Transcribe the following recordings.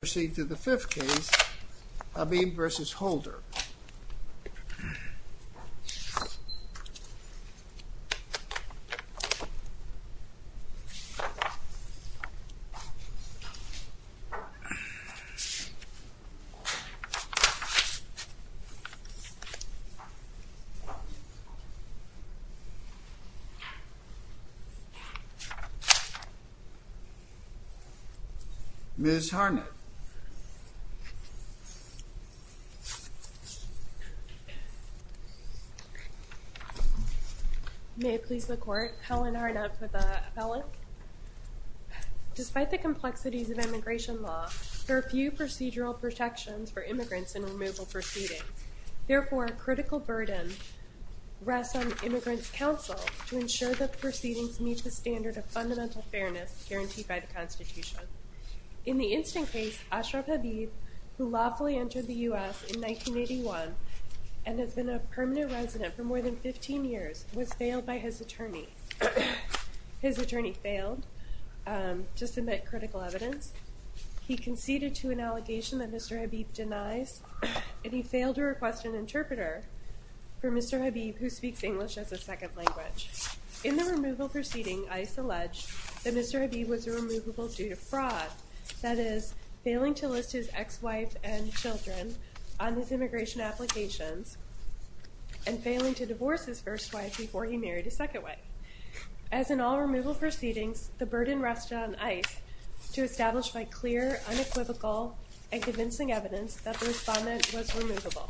Proceed to the fifth case, Habib v. Holder. Proceed to the sixth case, Habib v. Holder. May it please the court, Helen Harnett for the appellate. Despite the complexities of immigration law, there are few procedural protections for immigrants in removal proceedings. Therefore, a critical burden rests on the Immigrants' Council to ensure that the proceedings meet the standard of fundamental fairness guaranteed by the Constitution. In the instant case, Ashraf Habib, who lawfully entered the U.S. in 1981 and has been a permanent resident for more than 15 years, was failed by his attorney. His attorney failed to submit critical evidence. He conceded to an allegation that Mr. Habib denies, and he failed to request an interpreter for Mr. Habib, who speaks English as a second language. In the removal proceeding, ICE alleged that Mr. Habib was removable due to fraud, that is, failing to list his ex-wife and children on his immigration applications and failing to divorce his first wife before he married his second wife. As in all removal proceedings, the burden rested on ICE to establish by clear, unequivocal, and convincing evidence that the respondent was removable.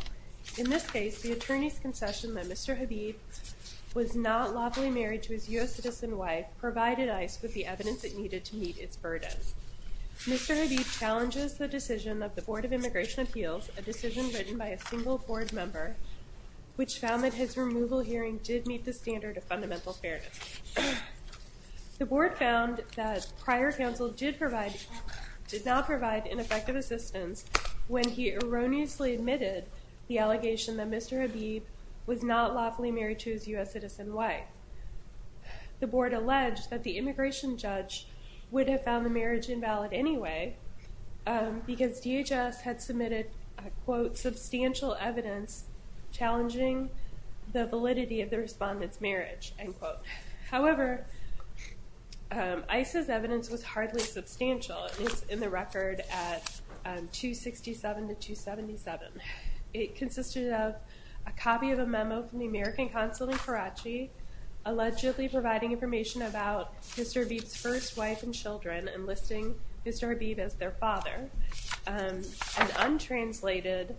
In this case, the attorney's concession that Mr. Habib was not lawfully married to his U.S. citizen wife provided ICE with the evidence it needed to meet its burden. Mr. Habib challenges the decision of the Board of Immigration Appeals, a decision written by a single board member, which found that his removal hearing did meet the standard of fundamental fairness. The board found that prior counsel did not provide an effective assistance when he erroneously admitted the allegation that Mr. Habib was not lawfully married to his U.S. citizen wife. The board alleged that the immigration judge would have found the marriage invalid anyway because DHS had submitted, quote, substantial evidence challenging the validity of the respondent's marriage, end quote. However, ICE's evidence was hardly substantial. It's in the record at 267 to 277. It consisted of a copy of a memo from the American Consulate in Karachi allegedly providing information about Mr. Habib's first wife and children and listing Mr. Habib as their father. An untranslated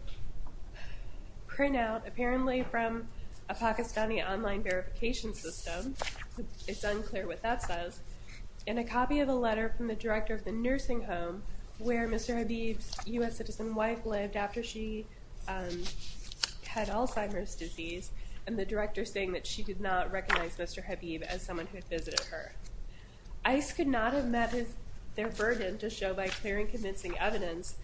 printout, apparently from a Pakistani online verification system. It's unclear what that says. And a copy of a letter from the director of the nursing home where Mr. Habib's U.S. citizen wife lived after she had Alzheimer's disease and the director saying that she did not recognize Mr. Habib as someone who visited her. ICE could not have met their burden to show by clearing convincing evidence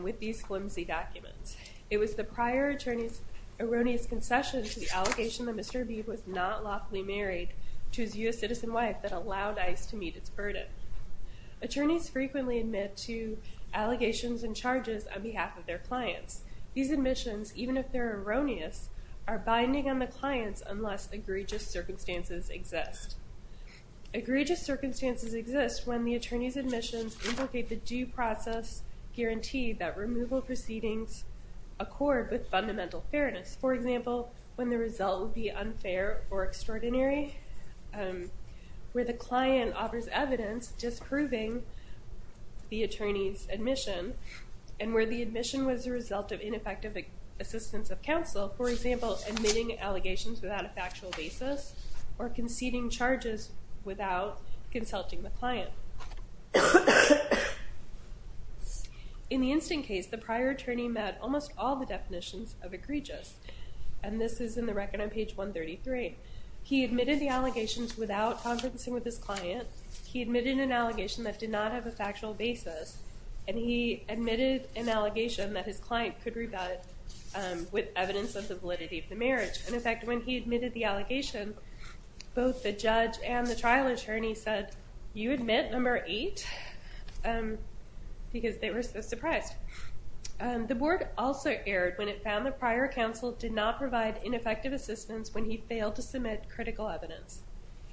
with these flimsy documents. It was the prior attorney's erroneous concession to the allegation that Mr. Habib was not lawfully married to his U.S. citizen wife that allowed ICE to meet its burden. Attorneys frequently admit to allegations and charges on behalf of their clients. These admissions, even if they're erroneous, are binding on the clients unless egregious circumstances exist. Egregious circumstances exist when the attorney's admissions implicate the due process guarantee that removal proceedings accord with fundamental fairness. For example, when the result would be unfair or extraordinary, where the client offers evidence disproving the attorney's admission and where the admission was the result of ineffective assistance of counsel. For example, admitting allegations without a factual basis or conceding charges without consulting the client. In the instant case, the prior attorney met almost all the definitions of egregious and this is in the record on page 133. He admitted the allegations without conferencing with his client. He admitted an allegation that did not have a factual basis. And he admitted an allegation that his client could rebut with evidence of the validity of the marriage. In effect, when he admitted the allegation, both the judge and the trial attorney said, you admit number eight? Because they were so surprised. The board also erred when it found the prior counsel did not provide ineffective assistance when he failed to submit critical evidence.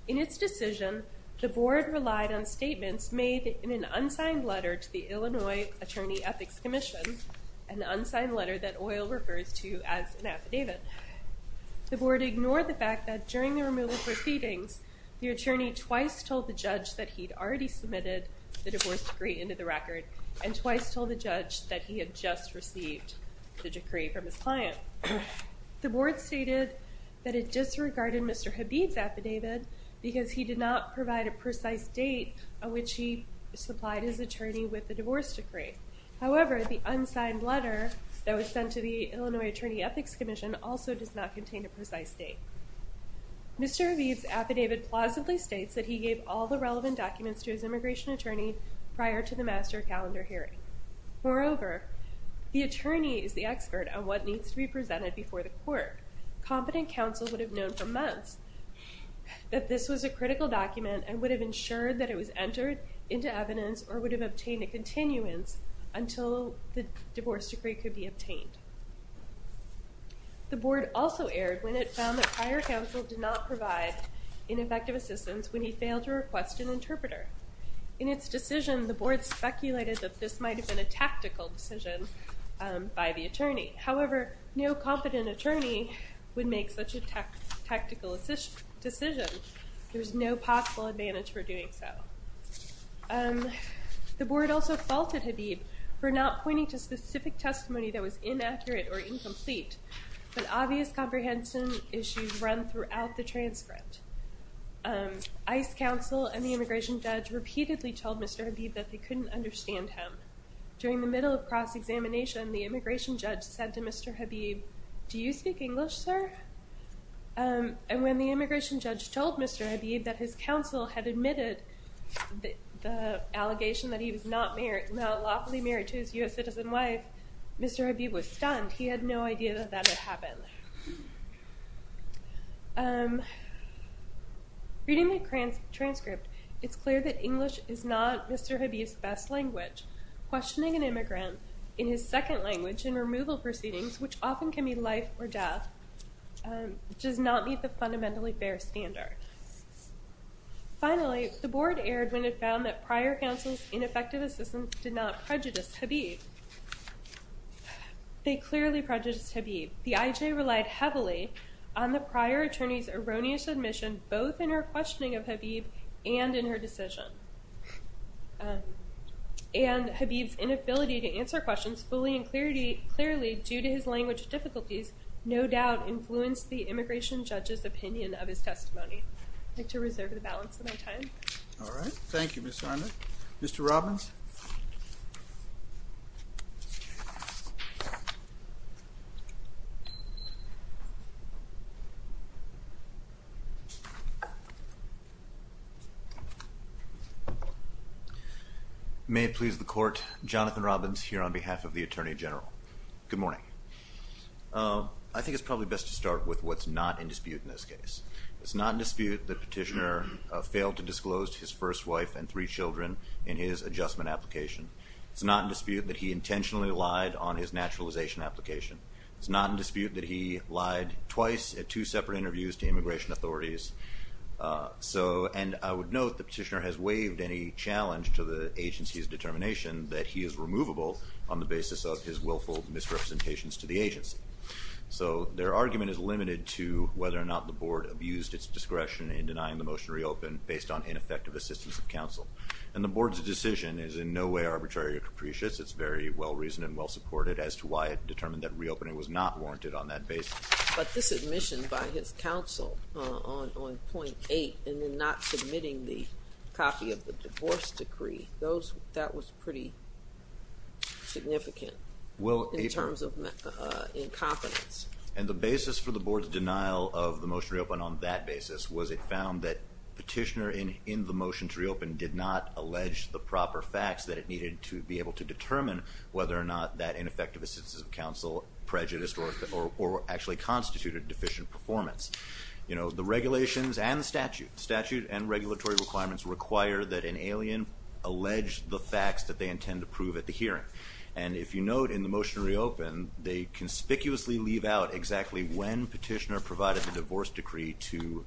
In its decision, the board relied on statements made in an unsigned letter to the Illinois Attorney Ethics Commission, an unsigned letter that Oyl refers to as an affidavit. The board ignored the fact that during the removal proceedings, the attorney twice told the judge that he'd already submitted the divorce decree into the record and twice told the judge that he had just received the decree from his client. The board stated that it disregarded Mr. Habib's affidavit because he did not provide a precise date on which he supplied his attorney with the divorce decree. However, the unsigned letter that was sent to the Illinois Attorney Ethics Commission also does not contain a precise date. Mr. Habib's affidavit plausibly states that he gave all the relevant documents to his immigration attorney prior to the master calendar hearing. Moreover, the attorney is the expert on what needs to be presented before the court. Competent counsel would have known for months that this was a critical document and would have ensured that it was entered into evidence or would have obtained a continuance until the divorce decree could be obtained. The board also erred when it found that prior counsel did not provide ineffective assistance when he failed to request an interpreter. In its decision, the board speculated that this might have been a tactical decision by the attorney. However, no competent attorney would make such a tactical decision. There is no possible advantage for doing so. The board also faulted Habib for not pointing to specific testimony that was inaccurate or incomplete, but obvious comprehension issues run throughout the transcript. ICE counsel and the immigration judge repeatedly told Mr. Habib that they couldn't understand him. During the middle of cross-examination, the immigration judge said to Mr. Habib, Do you speak English, sir? And when the immigration judge told Mr. Habib that his counsel had admitted the allegation that he was not lawfully married to his U.S. citizen wife, Mr. Habib was stunned. He had no idea that that had happened. Reading the transcript, it's clear that English is not Mr. Habib's best language. Questioning an immigrant in his second language in removal proceedings, which often can mean life or death, does not meet the fundamentally fair standard. Finally, the board erred when it found that prior counsel's ineffective assistance did not prejudice Habib. They clearly prejudiced Habib. The IJ relied heavily on the prior attorney's erroneous admission both in her questioning of Habib and in her decision. And Habib's inability to answer questions fully and clearly due to his language difficulties no doubt influenced the immigration judge's opinion of his testimony. I'd like to reserve the balance of my time. All right. Thank you, Ms. Simon. Mr. Robbins? May it please the Court, Jonathan Robbins here on behalf of the Attorney General. Good morning. I think it's probably best to start with what's not in dispute in this case. It's not in dispute that Petitioner failed to disclose to his first wife and three children in his adjustment application. It's not in dispute that he intentionally lied on his naturalization application. It's not in dispute that he lied twice at two separate interviews to immigration authorities. And I would note that Petitioner has waived any challenge to the agency's determination that he is removable on the basis of his willful misrepresentations to the agency. So their argument is limited to whether or not the Board abused its discretion in denying the motion to reopen based on ineffective assistance of counsel. And the Board's decision is in no way arbitrary or capricious. It's very well-reasoned and well-supported as to why it determined that reopening was not warranted on that basis. But this admission by his counsel on point eight and then not submitting the copy of the divorce decree, that was pretty significant in terms of incompetence. And the basis for the Board's denial of the motion to reopen on that basis was it found that Petitioner in the motion to reopen did not allege the proper facts that it needed to be able to determine whether or not that ineffective assistance of counsel prejudiced or actually constituted deficient performance. The regulations and the statute and regulatory requirements require that an alien allege the facts that they intend to prove at the hearing. And if you note in the motion to reopen, they conspicuously leave out exactly when Petitioner provided the divorce decree to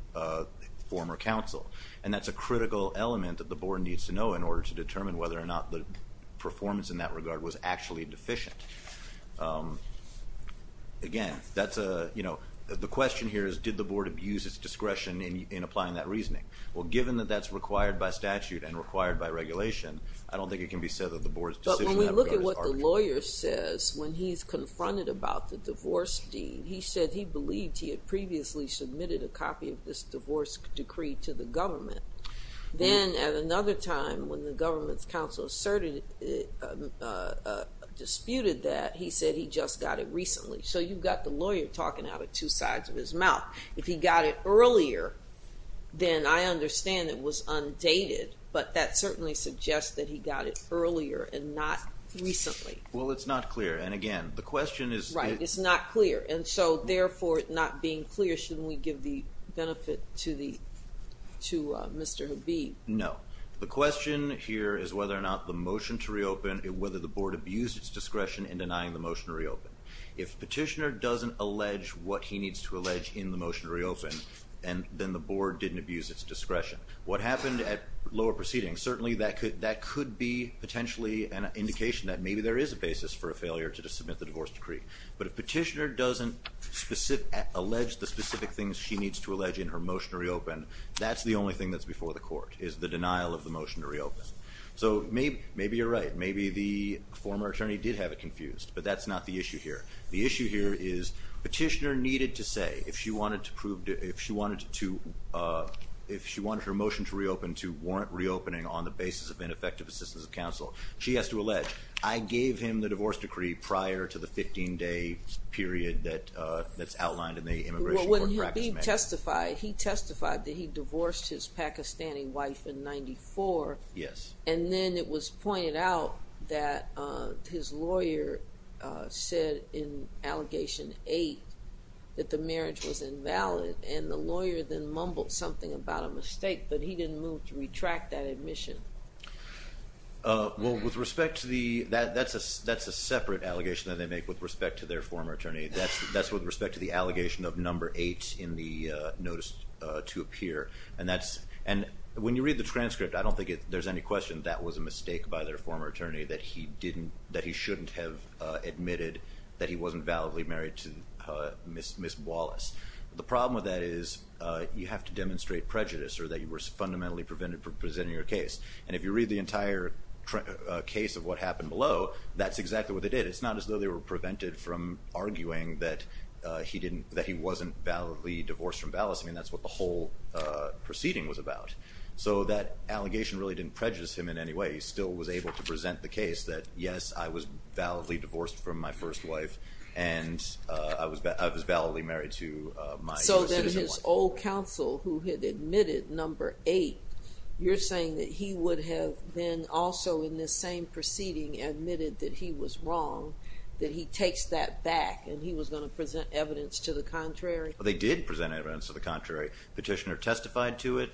former counsel. And that's a critical element that the Board needs to know in order to determine whether or not the performance in that regard was actually deficient. Again, that's a, you know, the question here is did the Board abuse its discretion in applying that reasoning? Well, given that that's required by statute and required by regulation, I don't think it can be said that the Board's decision was arbitrary. When we look at what the lawyer says when he's confronted about the divorce deed, he said he believed he had previously submitted a copy of this divorce decree to the government. Then at another time when the government's counsel asserted, disputed that, he said he just got it recently. So you've got the lawyer talking out of two sides of his mouth. If he got it earlier, then I understand it was undated. But that certainly suggests that he got it earlier and not recently. Well, it's not clear. And again, the question is... Right. It's not clear. And so, therefore, it not being clear, shouldn't we give the benefit to Mr. Habib? No. The question here is whether or not the motion to reopen, whether the Board abused its discretion in denying the motion to reopen. If Petitioner doesn't allege what he needs to allege in the motion to reopen, then the Board didn't abuse its discretion. What happened at lower proceedings, certainly that could be potentially an indication that maybe there is a basis for a failure to submit the divorce decree. But if Petitioner doesn't allege the specific things she needs to allege in her motion to reopen, that's the only thing that's before the court is the denial of the motion to reopen. So maybe you're right. Maybe the former attorney did have it confused. But that's not the issue here. The issue here is Petitioner needed to say, if she wanted her motion to reopen to warrant reopening on the basis of ineffective assistance of counsel, she has to allege, I gave him the divorce decree prior to the 15-day period that's outlined in the Immigration Court Practice Manual. He testified that he divorced his Pakistani wife in 1994. Yes. And then it was pointed out that his lawyer said in Allegation 8 that the marriage was invalid. And the lawyer then mumbled something about a mistake, but he didn't move to retract that admission. Well, that's a separate allegation that they make with respect to their former attorney. That's with respect to the allegation of Number 8 in the notice to appear. And when you read the transcript, I don't think there's any question that was a mistake by their former attorney, that he shouldn't have admitted that he wasn't validly married to Ms. Wallace. The problem with that is you have to demonstrate prejudice or that you were fundamentally prevented from presenting your case. And if you read the entire case of what happened below, that's exactly what they did. It's not as though they were prevented from arguing that he wasn't validly divorced from Ms. Wallace. I mean, that's what the whole proceeding was about. So that allegation really didn't prejudice him in any way. He still was able to present the case that, yes, I was validly divorced from my first wife, and I was validly married to my citizen wife. So his old counsel who had admitted Number 8, you're saying that he would have been also in this same proceeding admitted that he was wrong, that he takes that back, and he was going to present evidence to the contrary? They did present evidence to the contrary. Petitioner testified to it.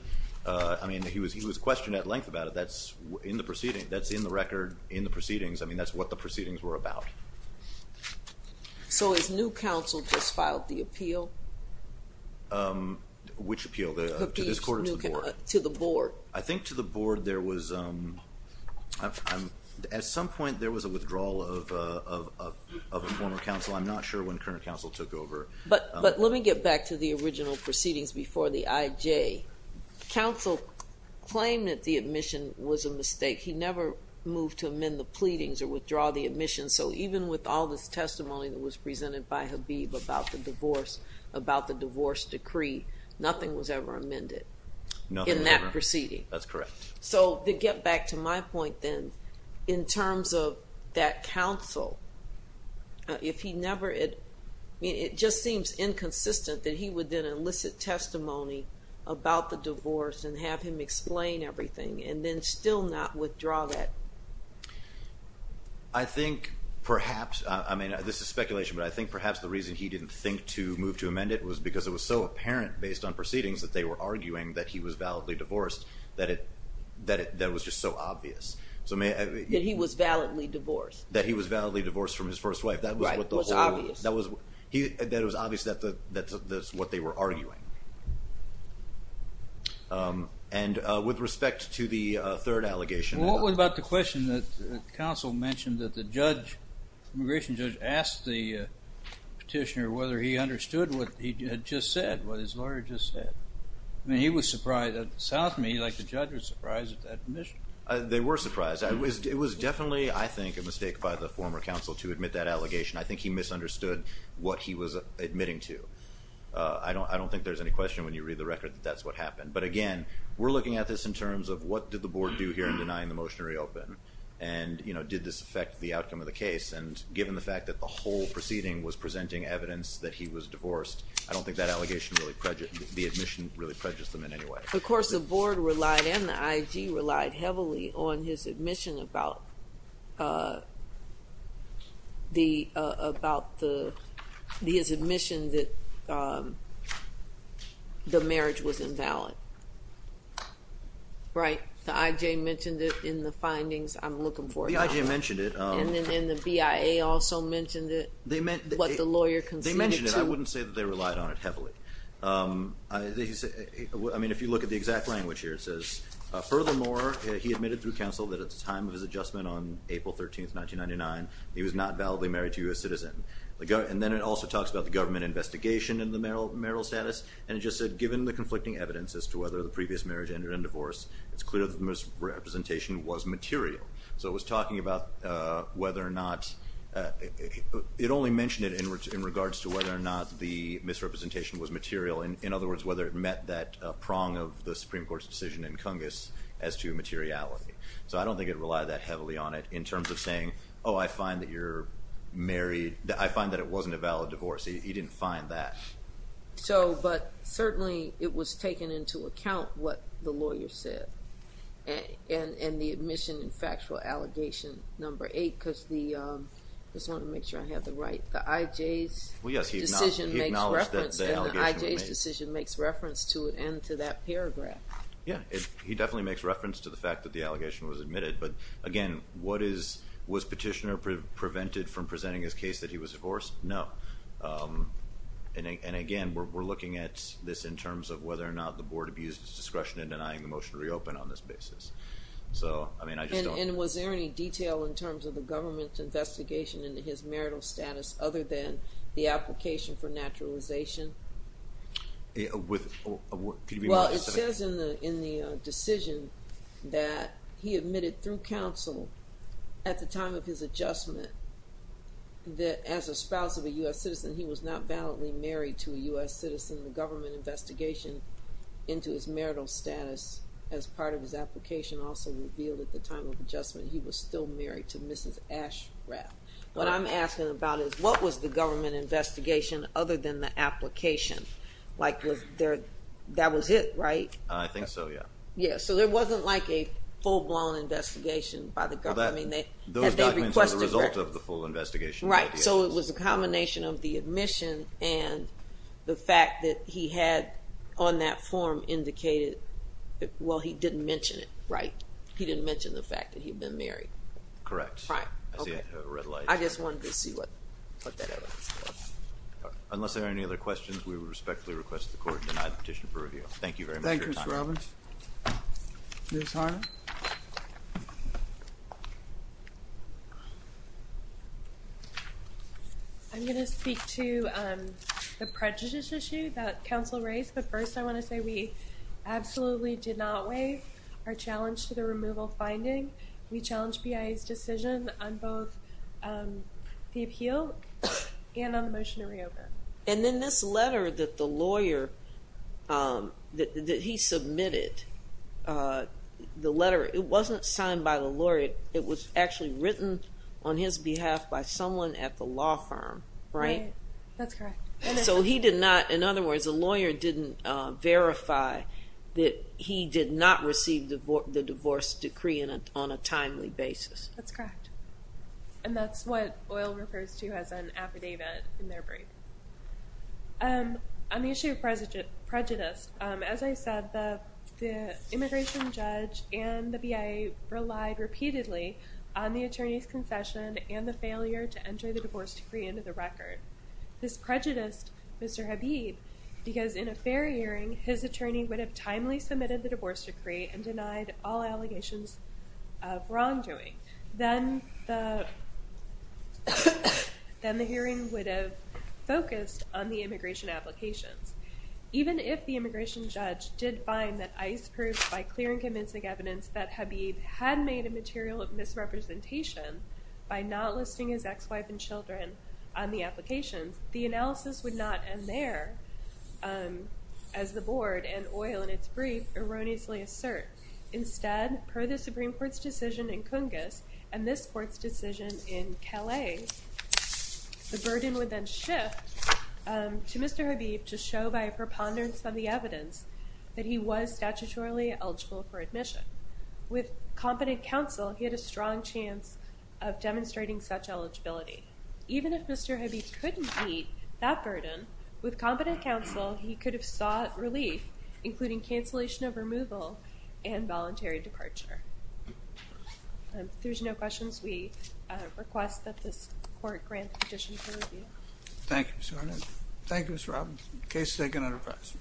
I mean, he was questioned at length about it. That's in the proceeding. That's in the record in the proceedings. I mean, that's what the proceedings were about. So his new counsel just filed the appeal? Which appeal, to this court or to the board? To the board. I think to the board there was, at some point there was a withdrawal of a former counsel. I'm not sure when current counsel took over. But let me get back to the original proceedings before the IJ. Counsel claimed that the admission was a mistake. He never moved to amend the pleadings or withdraw the admission. So even with all this testimony that was presented by Habib about the divorce, about the divorce decree, nothing was ever amended in that proceeding. That's correct. So to get back to my point then, in terms of that counsel, if he never had ‑‑ it just seems inconsistent that he would then elicit testimony about the divorce and have him explain everything and then still not withdraw that. I think perhaps, I mean, this is speculation, but I think perhaps the reason he didn't think to move to amend it was because it was so apparent based on proceedings that they were arguing that he was validly divorced, that it was just so obvious. That he was validly divorced. That he was validly divorced from his first wife. Right. That was obvious. That it was obvious that's what they were arguing. And with respect to the third allegation. What about the question that counsel mentioned that the judge, immigration judge, asked the petitioner whether he understood what he had just said, what his lawyer had just said. I mean, he was surprised. It sounds to me like the judge was surprised at that admission. They were surprised. It was definitely, I think, a mistake by the former counsel to admit that allegation. I think he misunderstood what he was admitting to. I don't think there's any question when you read the record that that's what happened. But again, we're looking at this in terms of what did the board do here in denying the motion to reopen? And did this affect the outcome of the case? And given the fact that the whole proceeding was presenting evidence that he was divorced, I don't think that allegation really prejudges them in any way. Of course, the board relied and the IG relied heavily on his admission that the marriage was invalid. Right? The IJ mentioned it in the findings. I'm looking for it now. The IJ mentioned it. And then the BIA also mentioned it, what the lawyer conceded to. They mentioned it. I wouldn't say that they relied on it heavily. I mean, if you look at the exact language here, it says, furthermore, he admitted through counsel that at the time of his adjustment on April 13, 1999, he was not validly married to a U.S. citizen. And then it also talks about the government investigation and the marital status. And it just said, given the conflicting evidence as to whether the previous marriage ended in divorce, it's clear that the misrepresentation was material. So it was talking about whether or not it only mentioned it in regards to whether or not the misrepresentation was material. In other words, whether it met that prong of the Supreme Court's decision in Cungus as to materiality. So I don't think it relied that heavily on it in terms of saying, oh, I find that you're married. I find that it wasn't a valid divorce. He didn't find that. But certainly it was taking into account what the lawyer said and the admission and factual allegation number eight, because the – I just want to make sure I have it right. The IJ's decision makes reference to it and to that paragraph. Yeah. He definitely makes reference to the fact that the allegation was admitted. But, again, was Petitioner prevented from presenting his case that he was divorced? No. And, again, we're looking at this in terms of whether or not the board abused its discretion in denying the motion to reopen on this basis. So, I mean, I just don't – And was there any detail in terms of the government's investigation into his marital status other than the application for naturalization? Well, it says in the decision that he admitted through counsel at the time of his adjustment that as a spouse of a U.S. citizen, he was not validly married to a U.S. citizen. The government investigation into his marital status as part of his application also revealed at the time of adjustment he was still married to Mrs. Ashrath. What I'm asking about is what was the government investigation other than the application? Like, was there – that was it, right? I think so, yeah. Yeah, so there wasn't like a full-blown investigation by the government. Those documents were the result of the full investigation. Right, so it was a combination of the admission and the fact that he had on that form indicated that, well, he didn't mention it, right? He didn't mention the fact that he had been married. Correct. Right, okay. I see a red light. I just wanted to see what that was. Unless there are any other questions, we respectfully request the court Thank you very much for your time. Thank you, Mr. Robbins. Ms. Harner? I'm going to speak to the prejudice issue that counsel raised, but first I want to say we absolutely did not weigh our challenge to the removal finding. We challenged BIA's decision on both the appeal and on the motion to reopen. And then this letter that the lawyer – that he submitted, the letter, it wasn't signed by the lawyer. It was actually written on his behalf by someone at the law firm, right? Right, that's correct. So he did not – in other words, the lawyer didn't verify that he did not receive the divorce decree on a timely basis. That's correct. And that's what OIL refers to as an affidavit in their brief. On the issue of prejudice, as I said, the immigration judge and the BIA relied repeatedly on the attorney's concession and the failure to enter the divorce decree into the record. This prejudiced Mr. Habib because in a fair hearing, his attorney would have timely submitted the divorce decree and denied all allegations of wrongdoing. Then the hearing would have focused on the immigration applications. Even if the immigration judge did find that ICE proved by clear and convincing evidence that Habib had made a material misrepresentation by not listing his ex-wife and children on the applications, the analysis would not end there as the board and OIL in its brief erroneously assert. Instead, per the Supreme Court's decision in Cungus and this court's decision in Calais, the burden would then shift to Mr. Habib to show by a preponderance of the evidence that he was statutorily eligible for admission. With competent counsel, he had a strong chance of demonstrating such eligibility. Even if Mr. Habib couldn't meet that burden, with competent counsel, he could have sought relief, including cancellation of removal and voluntary departure. If there's no questions, we request that this court grant the petition for review. Thank you, Ms. Hornett. Thank you, Mr. Robinson. Case is taken under press.